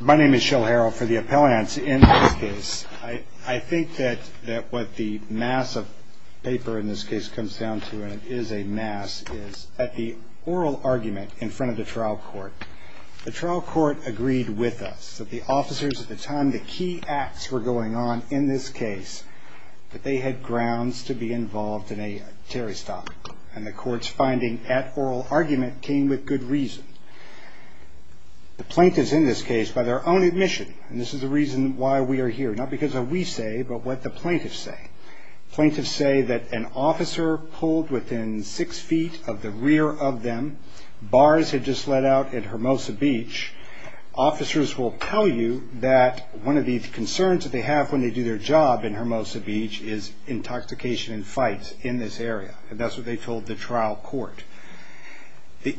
My name is Shell Harrell for the Appellants. In this case, I think that what the mass of paper in this case comes down to, and it is a mass, is that the oral argument in front of the trial court, the trial court agreed with us that the officers at the time, the key acts were going on in this case, that they had grounds to be involved in a Terry stop. And the court's finding at oral argument came with good reason. The plaintiffs in this case, by their own admission, and this is the reason why we are here, not because of what we say, but what the plaintiffs say. Plaintiffs say that an officer pulled within six feet of the rear of them, bars had just let out at Hermosa Beach, officers will tell you that one of the concerns that they have when they do their job in Hermosa Beach is intoxication and fights in this area. And that's what they told the trial court.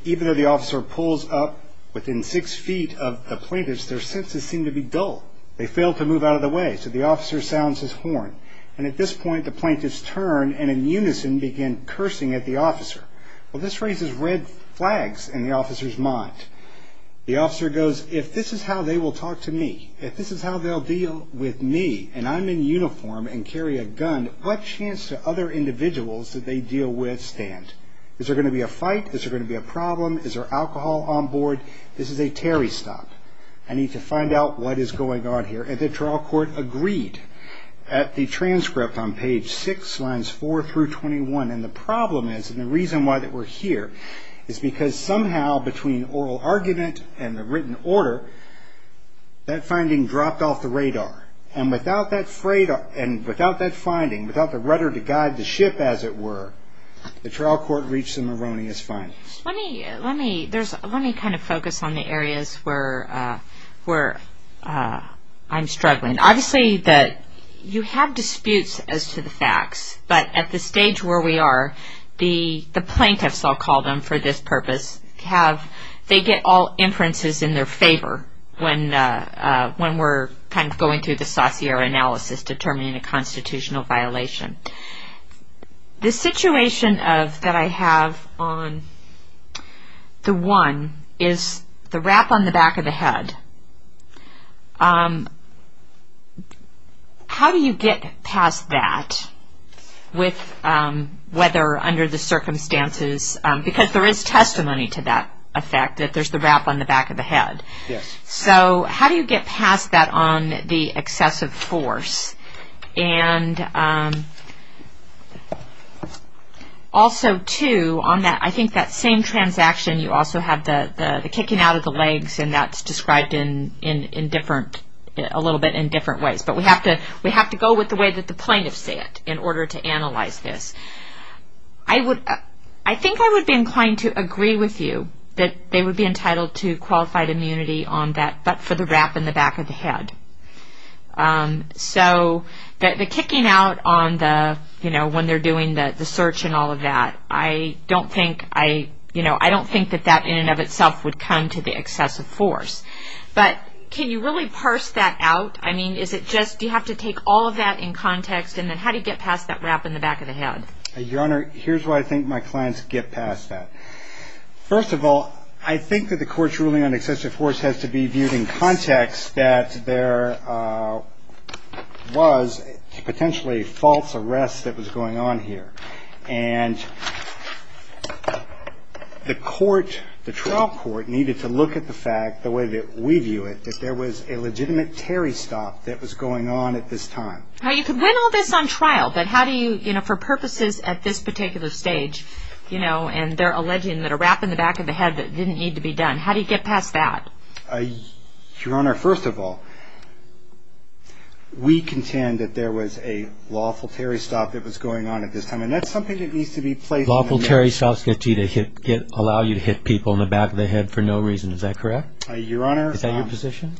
Even though the officer pulls up within six feet of the plaintiffs, their senses seem to be dull. They fail to move out of the way, so the officer sounds his horn, and at this point the plaintiffs turn and in unison begin cursing at the officer. Well, this raises red flags in the officer's mind. The officer goes, if this is how they will talk to me, if this is how they will deal with me, and I'm in uniform and carry a gun, what chance do other individuals that they deal with stand? Is there going to be a fight? Is there going to be a problem? Is there alcohol on board? This is a Terry stop. I need to find out what is going on here. And the trial court agreed at the transcript on page six, lines four through 21. And the problem is, and the reason why we're here, is because somehow between oral argument and the written order, that finding dropped off the radar. And without that finding, without the rudder to guide the ship as it were, the trial court reached an erroneous finding. Let me kind of focus on the areas where I'm struggling. Obviously, you have disputes as to the facts, but at the stage where we are, the plaintiffs, I'll call them for this purpose, they get all inferences in their favor when we're kind of going through the saucier analysis, determining a constitutional violation. The situation that I have on the one is the wrap on the back of the head. How do you get past that with whether under the circumstances, because there is testimony to that effect, that there's the wrap on the back of the head. So how do you get past that on the excessive force? And also, too, on that, I think that same transaction, you also have the kicking out of the legs, and that's described in different, a little bit in different ways. But we have to go with the way that the plaintiffs see it in order to analyze this. I think I would be inclined to agree with you that they would be entitled to qualified immunity on that, but for the wrap on the back of the head. So the kicking out on the, you know, when they're doing the search and all of that, I don't think that that in and of itself would come to the excessive force. But can you really parse that out? I mean, is it just, do you have to take all of that in context? And then how do you get past that wrap in the back of the head? Your Honor, here's why I think my clients get past that. First of all, I think that the court's ruling on excessive force has to be viewed in context that there was potentially false arrest that was going on here. And the court, the trial court, needed to look at the fact, the way that we view it, that there was a legitimate Terry stop that was going on at this time. Now, you could win all this on trial, but how do you, you know, for purposes at this particular stage, you know, and they're alleging that a wrap in the back of the head that didn't need to be done, how do you get past that? Your Honor, first of all, we contend that there was a lawful Terry stop that was going on at this time. And that's something that needs to be placed in the... Lawful Terry stops allow you to hit people in the back of the head for no reason. Is that correct? Your Honor... Is that your position?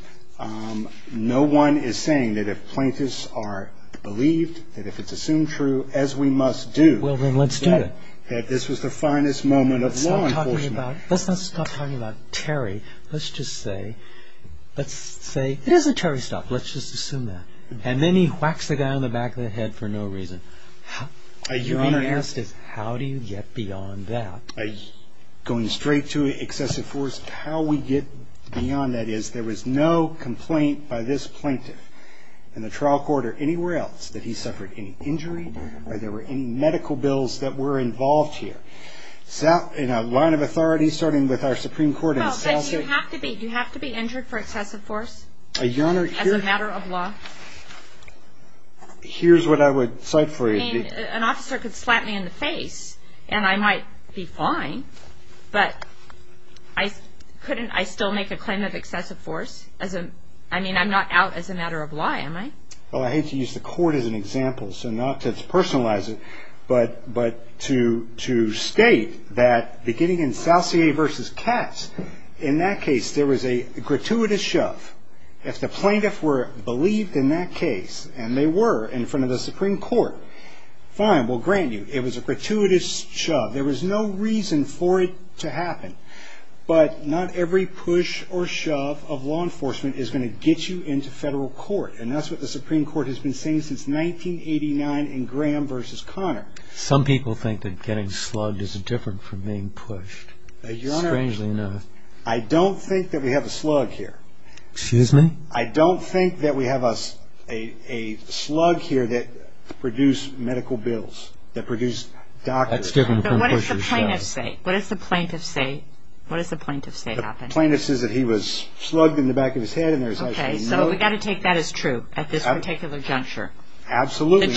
No one is saying that if plaintiffs are believed, that if it's assumed true, as we must do... Well, then let's do it. ...that this was the finest moment of law enforcement. Let's not stop talking about Terry. Let's just say, let's say, it is a Terry stop. Let's just assume that. And then he whacks the guy in the back of the head for no reason. Your Honor... You're being asked, how do you get beyond that? Going straight to excessive force, how we get beyond that is, there was no complaint by this plaintiff in the trial court or anywhere else that he suffered any injury, or there were any medical bills that were involved here. In a line of authority, starting with our Supreme Court... Well, but you have to be injured for excessive force as a matter of law. Your Honor, here's what I would cite for you. I mean, an officer could slap me in the face, and I might be fine, but couldn't I still make a claim of excessive force? I mean, I'm not out as a matter of law, am I? Well, I hate to use the court as an example, so not to personalize it, but to state that beginning in Salcier v. Katz, in that case, there was a gratuitous shove. If the plaintiff believed in that case, and they were in front of the Supreme Court, fine, we'll grant you, it was a gratuitous shove. There was no reason for it to happen. But not every push or shove of law enforcement is going to get you into federal court. And that's what the Supreme Court has been saying since 1989 in Graham v. Connor. Some people think that getting slugged is different from being pushed. Strangely enough. I don't think that we have a slug here. Excuse me? I don't think that we have a slug here that produced medical bills, that produced doctors. But what does the plaintiff say? What does the plaintiff say? What does the plaintiff say happened? The plaintiff says that he was slugged in the back of his head, and there was actually no... Okay, so we've got to take that as true at this particular juncture. Absolutely.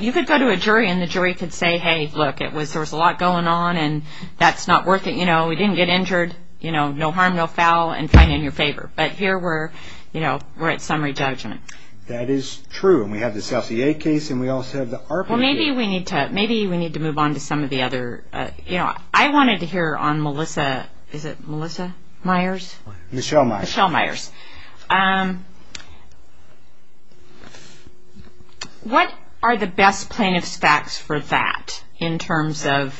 You could go to a jury, and the jury could say, hey, look, there was a lot going on, and that's not worth it. We didn't get injured, no harm, no foul, and fine in your favor. But here we're at summary judgment. That is true. And we have the South VA case, and we also have the ARPA case. Well, maybe we need to move on to some of the other... I wanted to hear on Melissa, is it Melissa Myers? Michelle Myers. Michelle Myers. Okay. What are the best plaintiff's facts for that, in terms of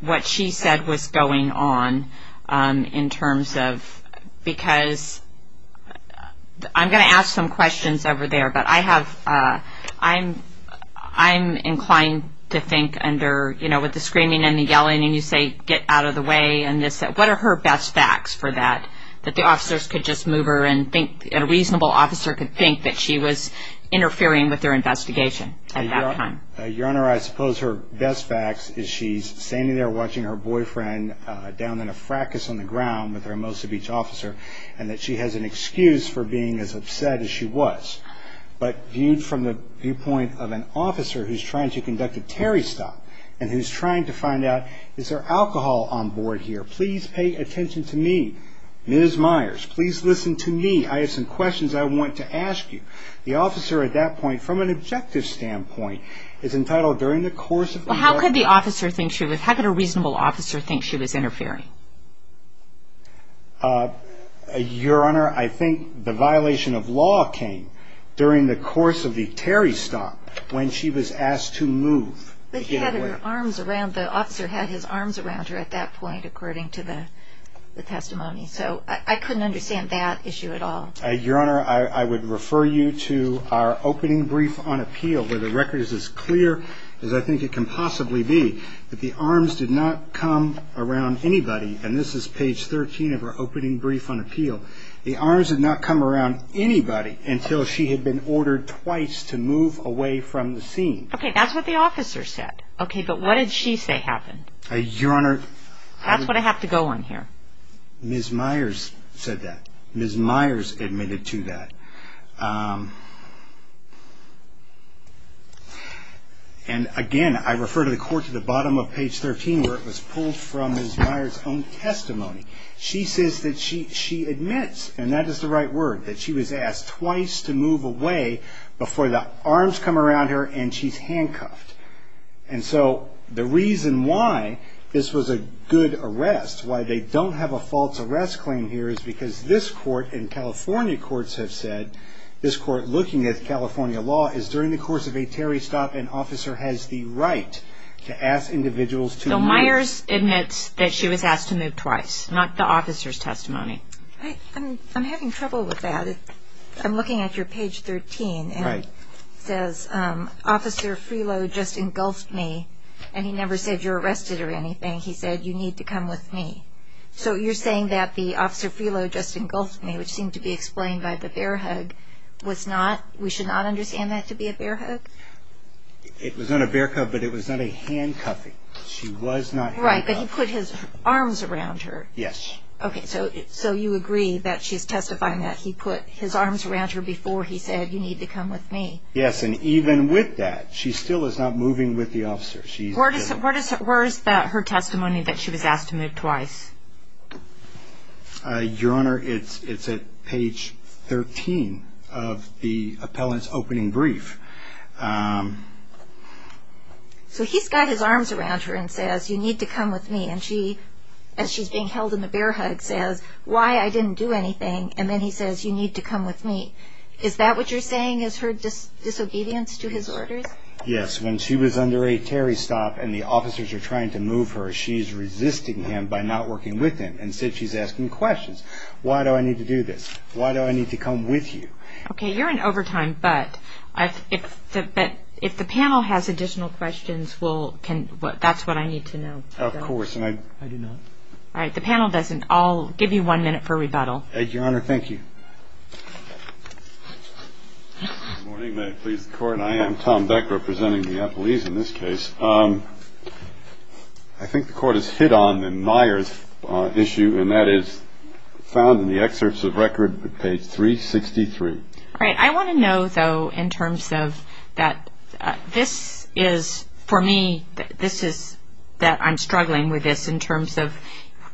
what she said was going on, in terms of... because I'm going to ask some questions over there, but I have... I'm inclined to think under, you know, with the screaming and the yelling, and you say, get out of the way, and this. What are her best facts for that, that the officers could just move her, and a reasonable officer could think that she was interfering with their investigation at that time? Your Honor, I suppose her best facts is she's standing there watching her boyfriend down in a fracas on the ground with her Mosa Beach officer, and that she has an excuse for being as upset as she was. But viewed from the viewpoint of an officer who's trying to conduct a Terry stop, and who's trying to find out, is there alcohol on board here? Please pay attention to me, Ms. Myers. Please listen to me. I have some questions I want to ask you. The officer at that point, from an objective standpoint, is entitled during the course of... Well, how could the officer think she was... how could a reasonable officer think she was interfering? Your Honor, I think the violation of law came during the course of the Terry stop, when she was asked to move. But he had her arms around... the officer had his arms around her at that point, according to the testimony. So I couldn't understand that issue at all. Your Honor, I would refer you to our opening brief on appeal, where the record is as clear as I think it can possibly be, that the arms did not come around anybody. And this is page 13 of our opening brief on appeal. The arms did not come around anybody until she had been ordered twice to move away from the scene. Okay, that's what the officer said. Okay, but what did she say happened? Your Honor... That's what I have to go on here. Ms. Myers said that. Ms. Myers admitted to that. And again, I refer to the court to the bottom of page 13, where it was pulled from Ms. Myers' own testimony. She says that she admits, and that is the right word, that she was asked twice to move away before the arms come around her and she's handcuffed. And so the reason why this was a good arrest, why they don't have a false arrest claim here, is because this court and California courts have said this court, looking at California law, is during the course of a Terry stop, an officer has the right to ask individuals to move... So Myers admits that she was asked to move twice, not the officer's testimony. I'm having trouble with that. I'm looking at your page 13, and it says, Officer Freelo just engulfed me, and he never said you're arrested or anything. He said you need to come with me. So you're saying that the officer Freelo just engulfed me, which seemed to be explained by the bear hug, was not, we should not understand that to be a bear hug? It was not a bear hug, but it was not a handcuffing. She was not handcuffed. Right, but he put his arms around her. Yes. Okay, so you agree that she's testifying that he put his arms around her before he said you need to come with me. Yes, and even with that, she still is not moving with the officer. Where is her testimony that she was asked to move twice? Your Honor, it's at page 13 of the appellant's opening brief. So he's got his arms around her and says you need to come with me, and she, as she's being held in the bear hug, says why I didn't do anything, and then he says you need to come with me. Is that what you're saying is her disobedience to his orders? Yes, when she was under a Terry stop and the officers are trying to move her, she's resisting him by not working with him, and so she's asking questions. Why do I need to do this? Why do I need to come with you? Okay, you're in overtime, but if the panel has additional questions, that's what I need to know. Of course, and I do not. All right, the panel doesn't. I'll give you one minute for rebuttal. Your Honor, thank you. Good morning. May it please the Court. I am Tom Beck representing the appellees in this case. I think the Court has hit on the Myers issue, and that is found in the excerpts of record at page 363. All right, I want to know, though, in terms of that this is, for me, this is that I'm struggling with this in terms of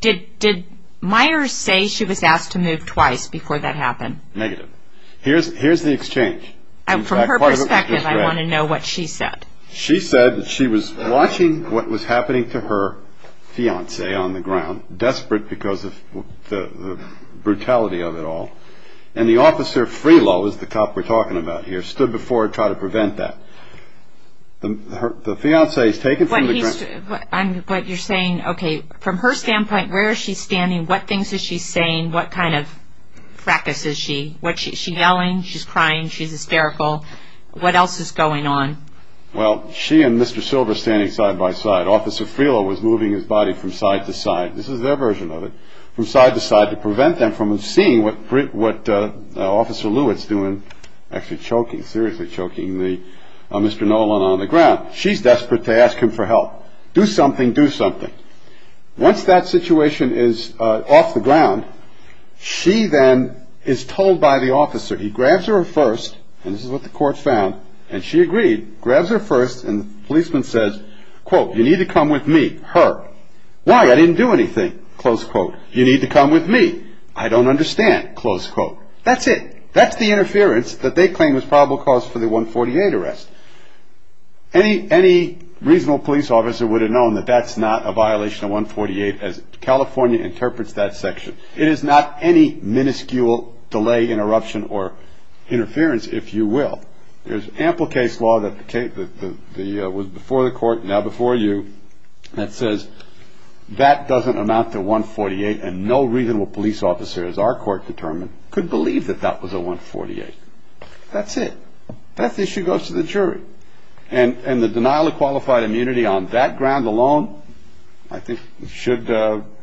did Myers say she was asked to move twice before that happened? Negative. Here's the exchange. From her perspective, I want to know what she said. She said that she was watching what was happening to her fiancé on the ground, desperate because of the brutality of it all, and the officer, Frelow, is the cop we're talking about here, stood before her to try to prevent that. The fiancé is taken from the ground. But you're saying, okay, from her standpoint, where is she standing? What things is she saying? What kind of fracas is she? Is she yelling? She's crying. She's hysterical. What else is going on? Well, she and Mr. Silver are standing side by side. Officer Frelow was moving his body from side to side. This is their version of it. From side to side to prevent them from seeing what what Officer Lewis doing, actually choking, seriously choking the Mr. Nolan on the ground. She's desperate to ask him for help. Do something. Do something. Once that situation is off the ground, she then is told by the officer, he grabs her first. And this is what the court found. And she agreed. Grabs her first. And the policeman says, quote, you need to come with me. Her. Why? I didn't do anything. Close quote. You need to come with me. I don't understand. Close quote. That's it. That's the interference that they claim was probable cause for the 148 arrest. Any reasonable police officer would have known that that's not a violation of 148 as California interprets that section. It is not any minuscule delay, interruption or interference, if you will. There's ample case law that the case that was before the court now before you that says that doesn't amount to 148. And no reasonable police officer, as our court determined, could believe that that was a 148. That's it. That issue goes to the jury. And the denial of qualified immunity on that ground alone, I think, should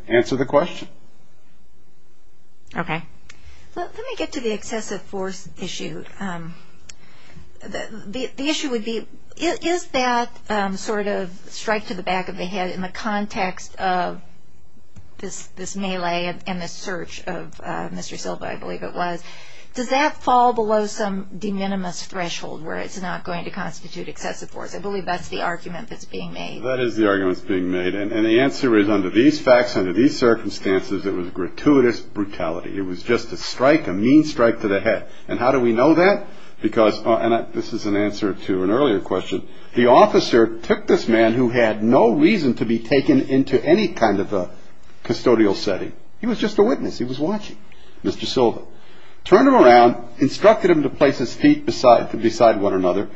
answer the question. Okay. Let me get to the excessive force issue. The issue would be, is that sort of strike to the back of the head in the context of this melee and this search of Mr. Silva, I believe it was, does that fall below some de minimis threshold where it's not going to constitute excessive force? I believe that's the argument that's being made. That is the argument that's being made. And the answer is under these facts, under these circumstances, it was gratuitous brutality. It was just a strike, a mean strike to the head. And how do we know that? Because this is an answer to an earlier question. The officer took this man who had no reason to be taken into any kind of a custodial setting. He was just a witness. He was watching Mr. Silva, turned him around, instructed him to place his feet beside beside one another.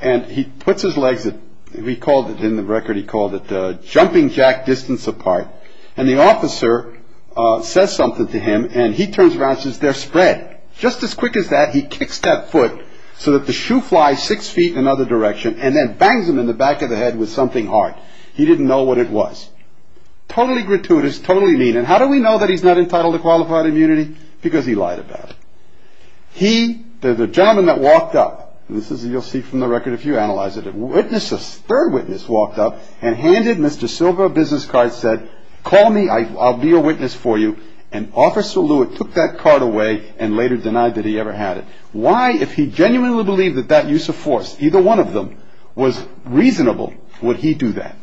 And he puts his legs. We called it in the record. He called it jumping jack distance apart. And the officer says something to him and he turns around, says they're spread just as quick as that. He kicks that foot so that the shoe flies six feet in another direction and then bangs him in the back of the head with something hard. He didn't know what it was. Totally gratuitous, totally mean. And how do we know that he's not entitled to qualified immunity? Because he lied about he the gentleman that walked up. This is you'll see from the record if you analyze it. Witnesses, third witness walked up and handed Mr. Silva a business card, said, call me. I'll be a witness for you. And Officer Lewitt took that card away and later denied that he ever had it. Why, if he genuinely believed that that use of force, either one of them was reasonable, would he do that?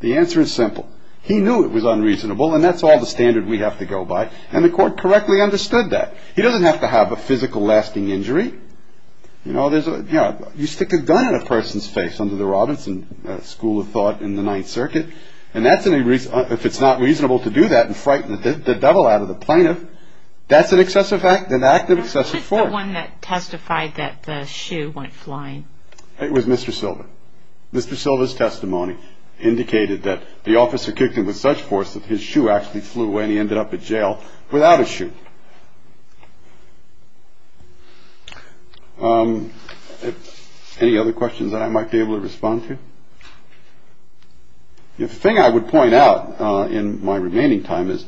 The answer is simple. He knew it was unreasonable and that's all the standard we have to go by. And the court correctly understood that. He doesn't have to have a physical lasting injury. You know, there's a you stick a gun in a person's face under the Robinson School of Thought in the Ninth Circuit. And that's any reason if it's not reasonable to do that and frighten the devil out of the plaintiff. That's an excessive act, an act of excessive force. The one that testified that the shoe went flying. It was Mr. Silva. Mr. Silva's testimony indicated that the officer kicked him with such force that his shoe actually flew away and he ended up in jail without a shoe. Any other questions that I might be able to respond to? The thing I would point out in my remaining time is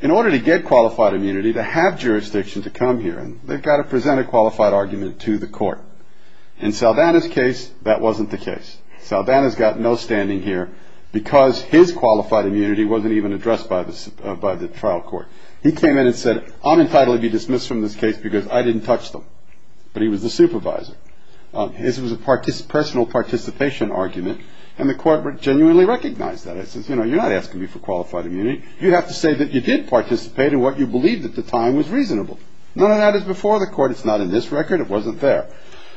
in order to get qualified immunity to have jurisdiction to come here, they've got to present a qualified argument to the court. And so that is case. That wasn't the case. So that has got no standing here because his qualified immunity wasn't even addressed by this by the trial court. He came in and said, I'm entitled to be dismissed from this case because I didn't touch them. But he was the supervisor. This was a party's personal participation argument. And the court would genuinely recognize that. I said, you know, you're not asking me for qualified immunity. You have to say that you did participate in what you believed at the time was reasonable. None of that is before the court. It's not in this record. It wasn't there.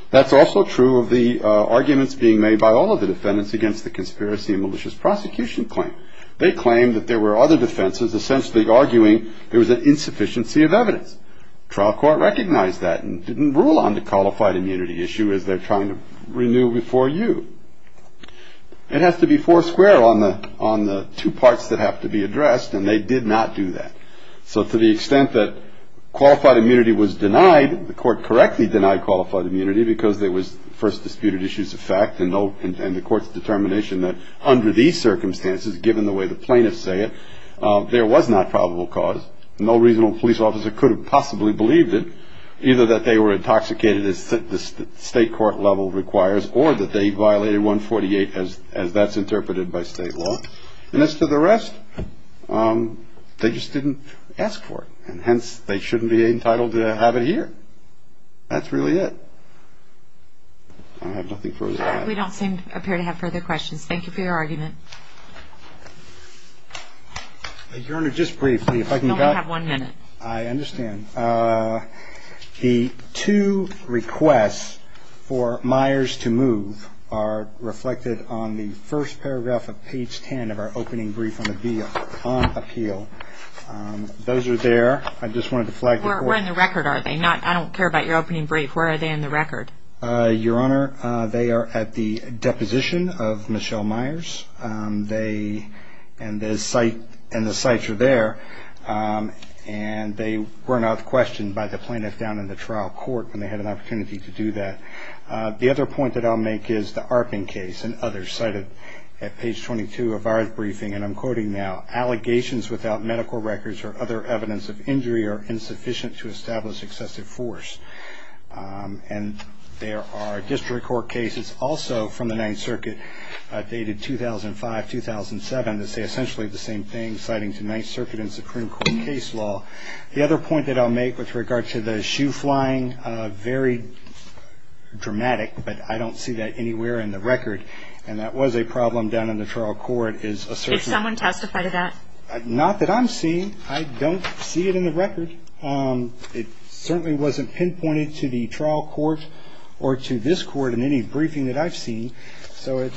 That's also true of the arguments being made by all of the defendants against the conspiracy and malicious prosecution claim. They claim that there were other defenses essentially arguing there was an insufficiency of evidence. Trial court recognized that and didn't rule on the qualified immunity issue as they're trying to renew before you. It has to be four square on the on the two parts that have to be addressed. And they did not do that. So to the extent that qualified immunity was denied, the court correctly denied qualified immunity because there was first disputed issues of fact and no. And the court's determination that under these circumstances, given the way the plaintiffs say it, there was not probable cause. No reasonable police officer could have possibly believed it, either that they were intoxicated as the state court level requires or that they violated 148 as as that's interpreted by state law. And as to the rest, they just didn't ask for it. And hence, they shouldn't be entitled to have it here. That's really it. I have nothing for that. We don't seem to appear to have further questions. Thank you for your argument. Your Honor, just briefly, if I can have one minute. I understand. The two requests for Myers to move are reflected on the first paragraph of page 10 of our opening brief on appeal. Those are there. I just wanted to flag. We're in the record. Are they not? I don't care about your opening brief. Where are they in the record? Your Honor, they are at the deposition of Michelle Myers. And the sites are there. And they were not questioned by the plaintiff down in the trial court when they had an opportunity to do that. The other point that I'll make is the Arping case and others cited at page 22 of our briefing. And I'm quoting now, allegations without medical records or other evidence of injury are insufficient to establish excessive force. And there are district court cases also from the Ninth Circuit dated 2005-2007 that say essentially the same thing, citing to Ninth Circuit and Supreme Court case law. The other point that I'll make with regard to the shoe flying, very dramatic, but I don't see that anywhere in the record. And that was a problem down in the trial court. Did someone testify to that? Not that I'm seeing. I don't see it in the record. It certainly wasn't pinpointed to the trial court or to this court in any briefing that I've seen. So it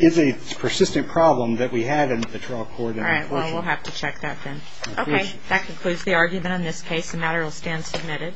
is a persistent problem that we had in the trial court. All right. Well, we'll have to check that then. Okay. That concludes the argument on this case. The matter will stand submitted.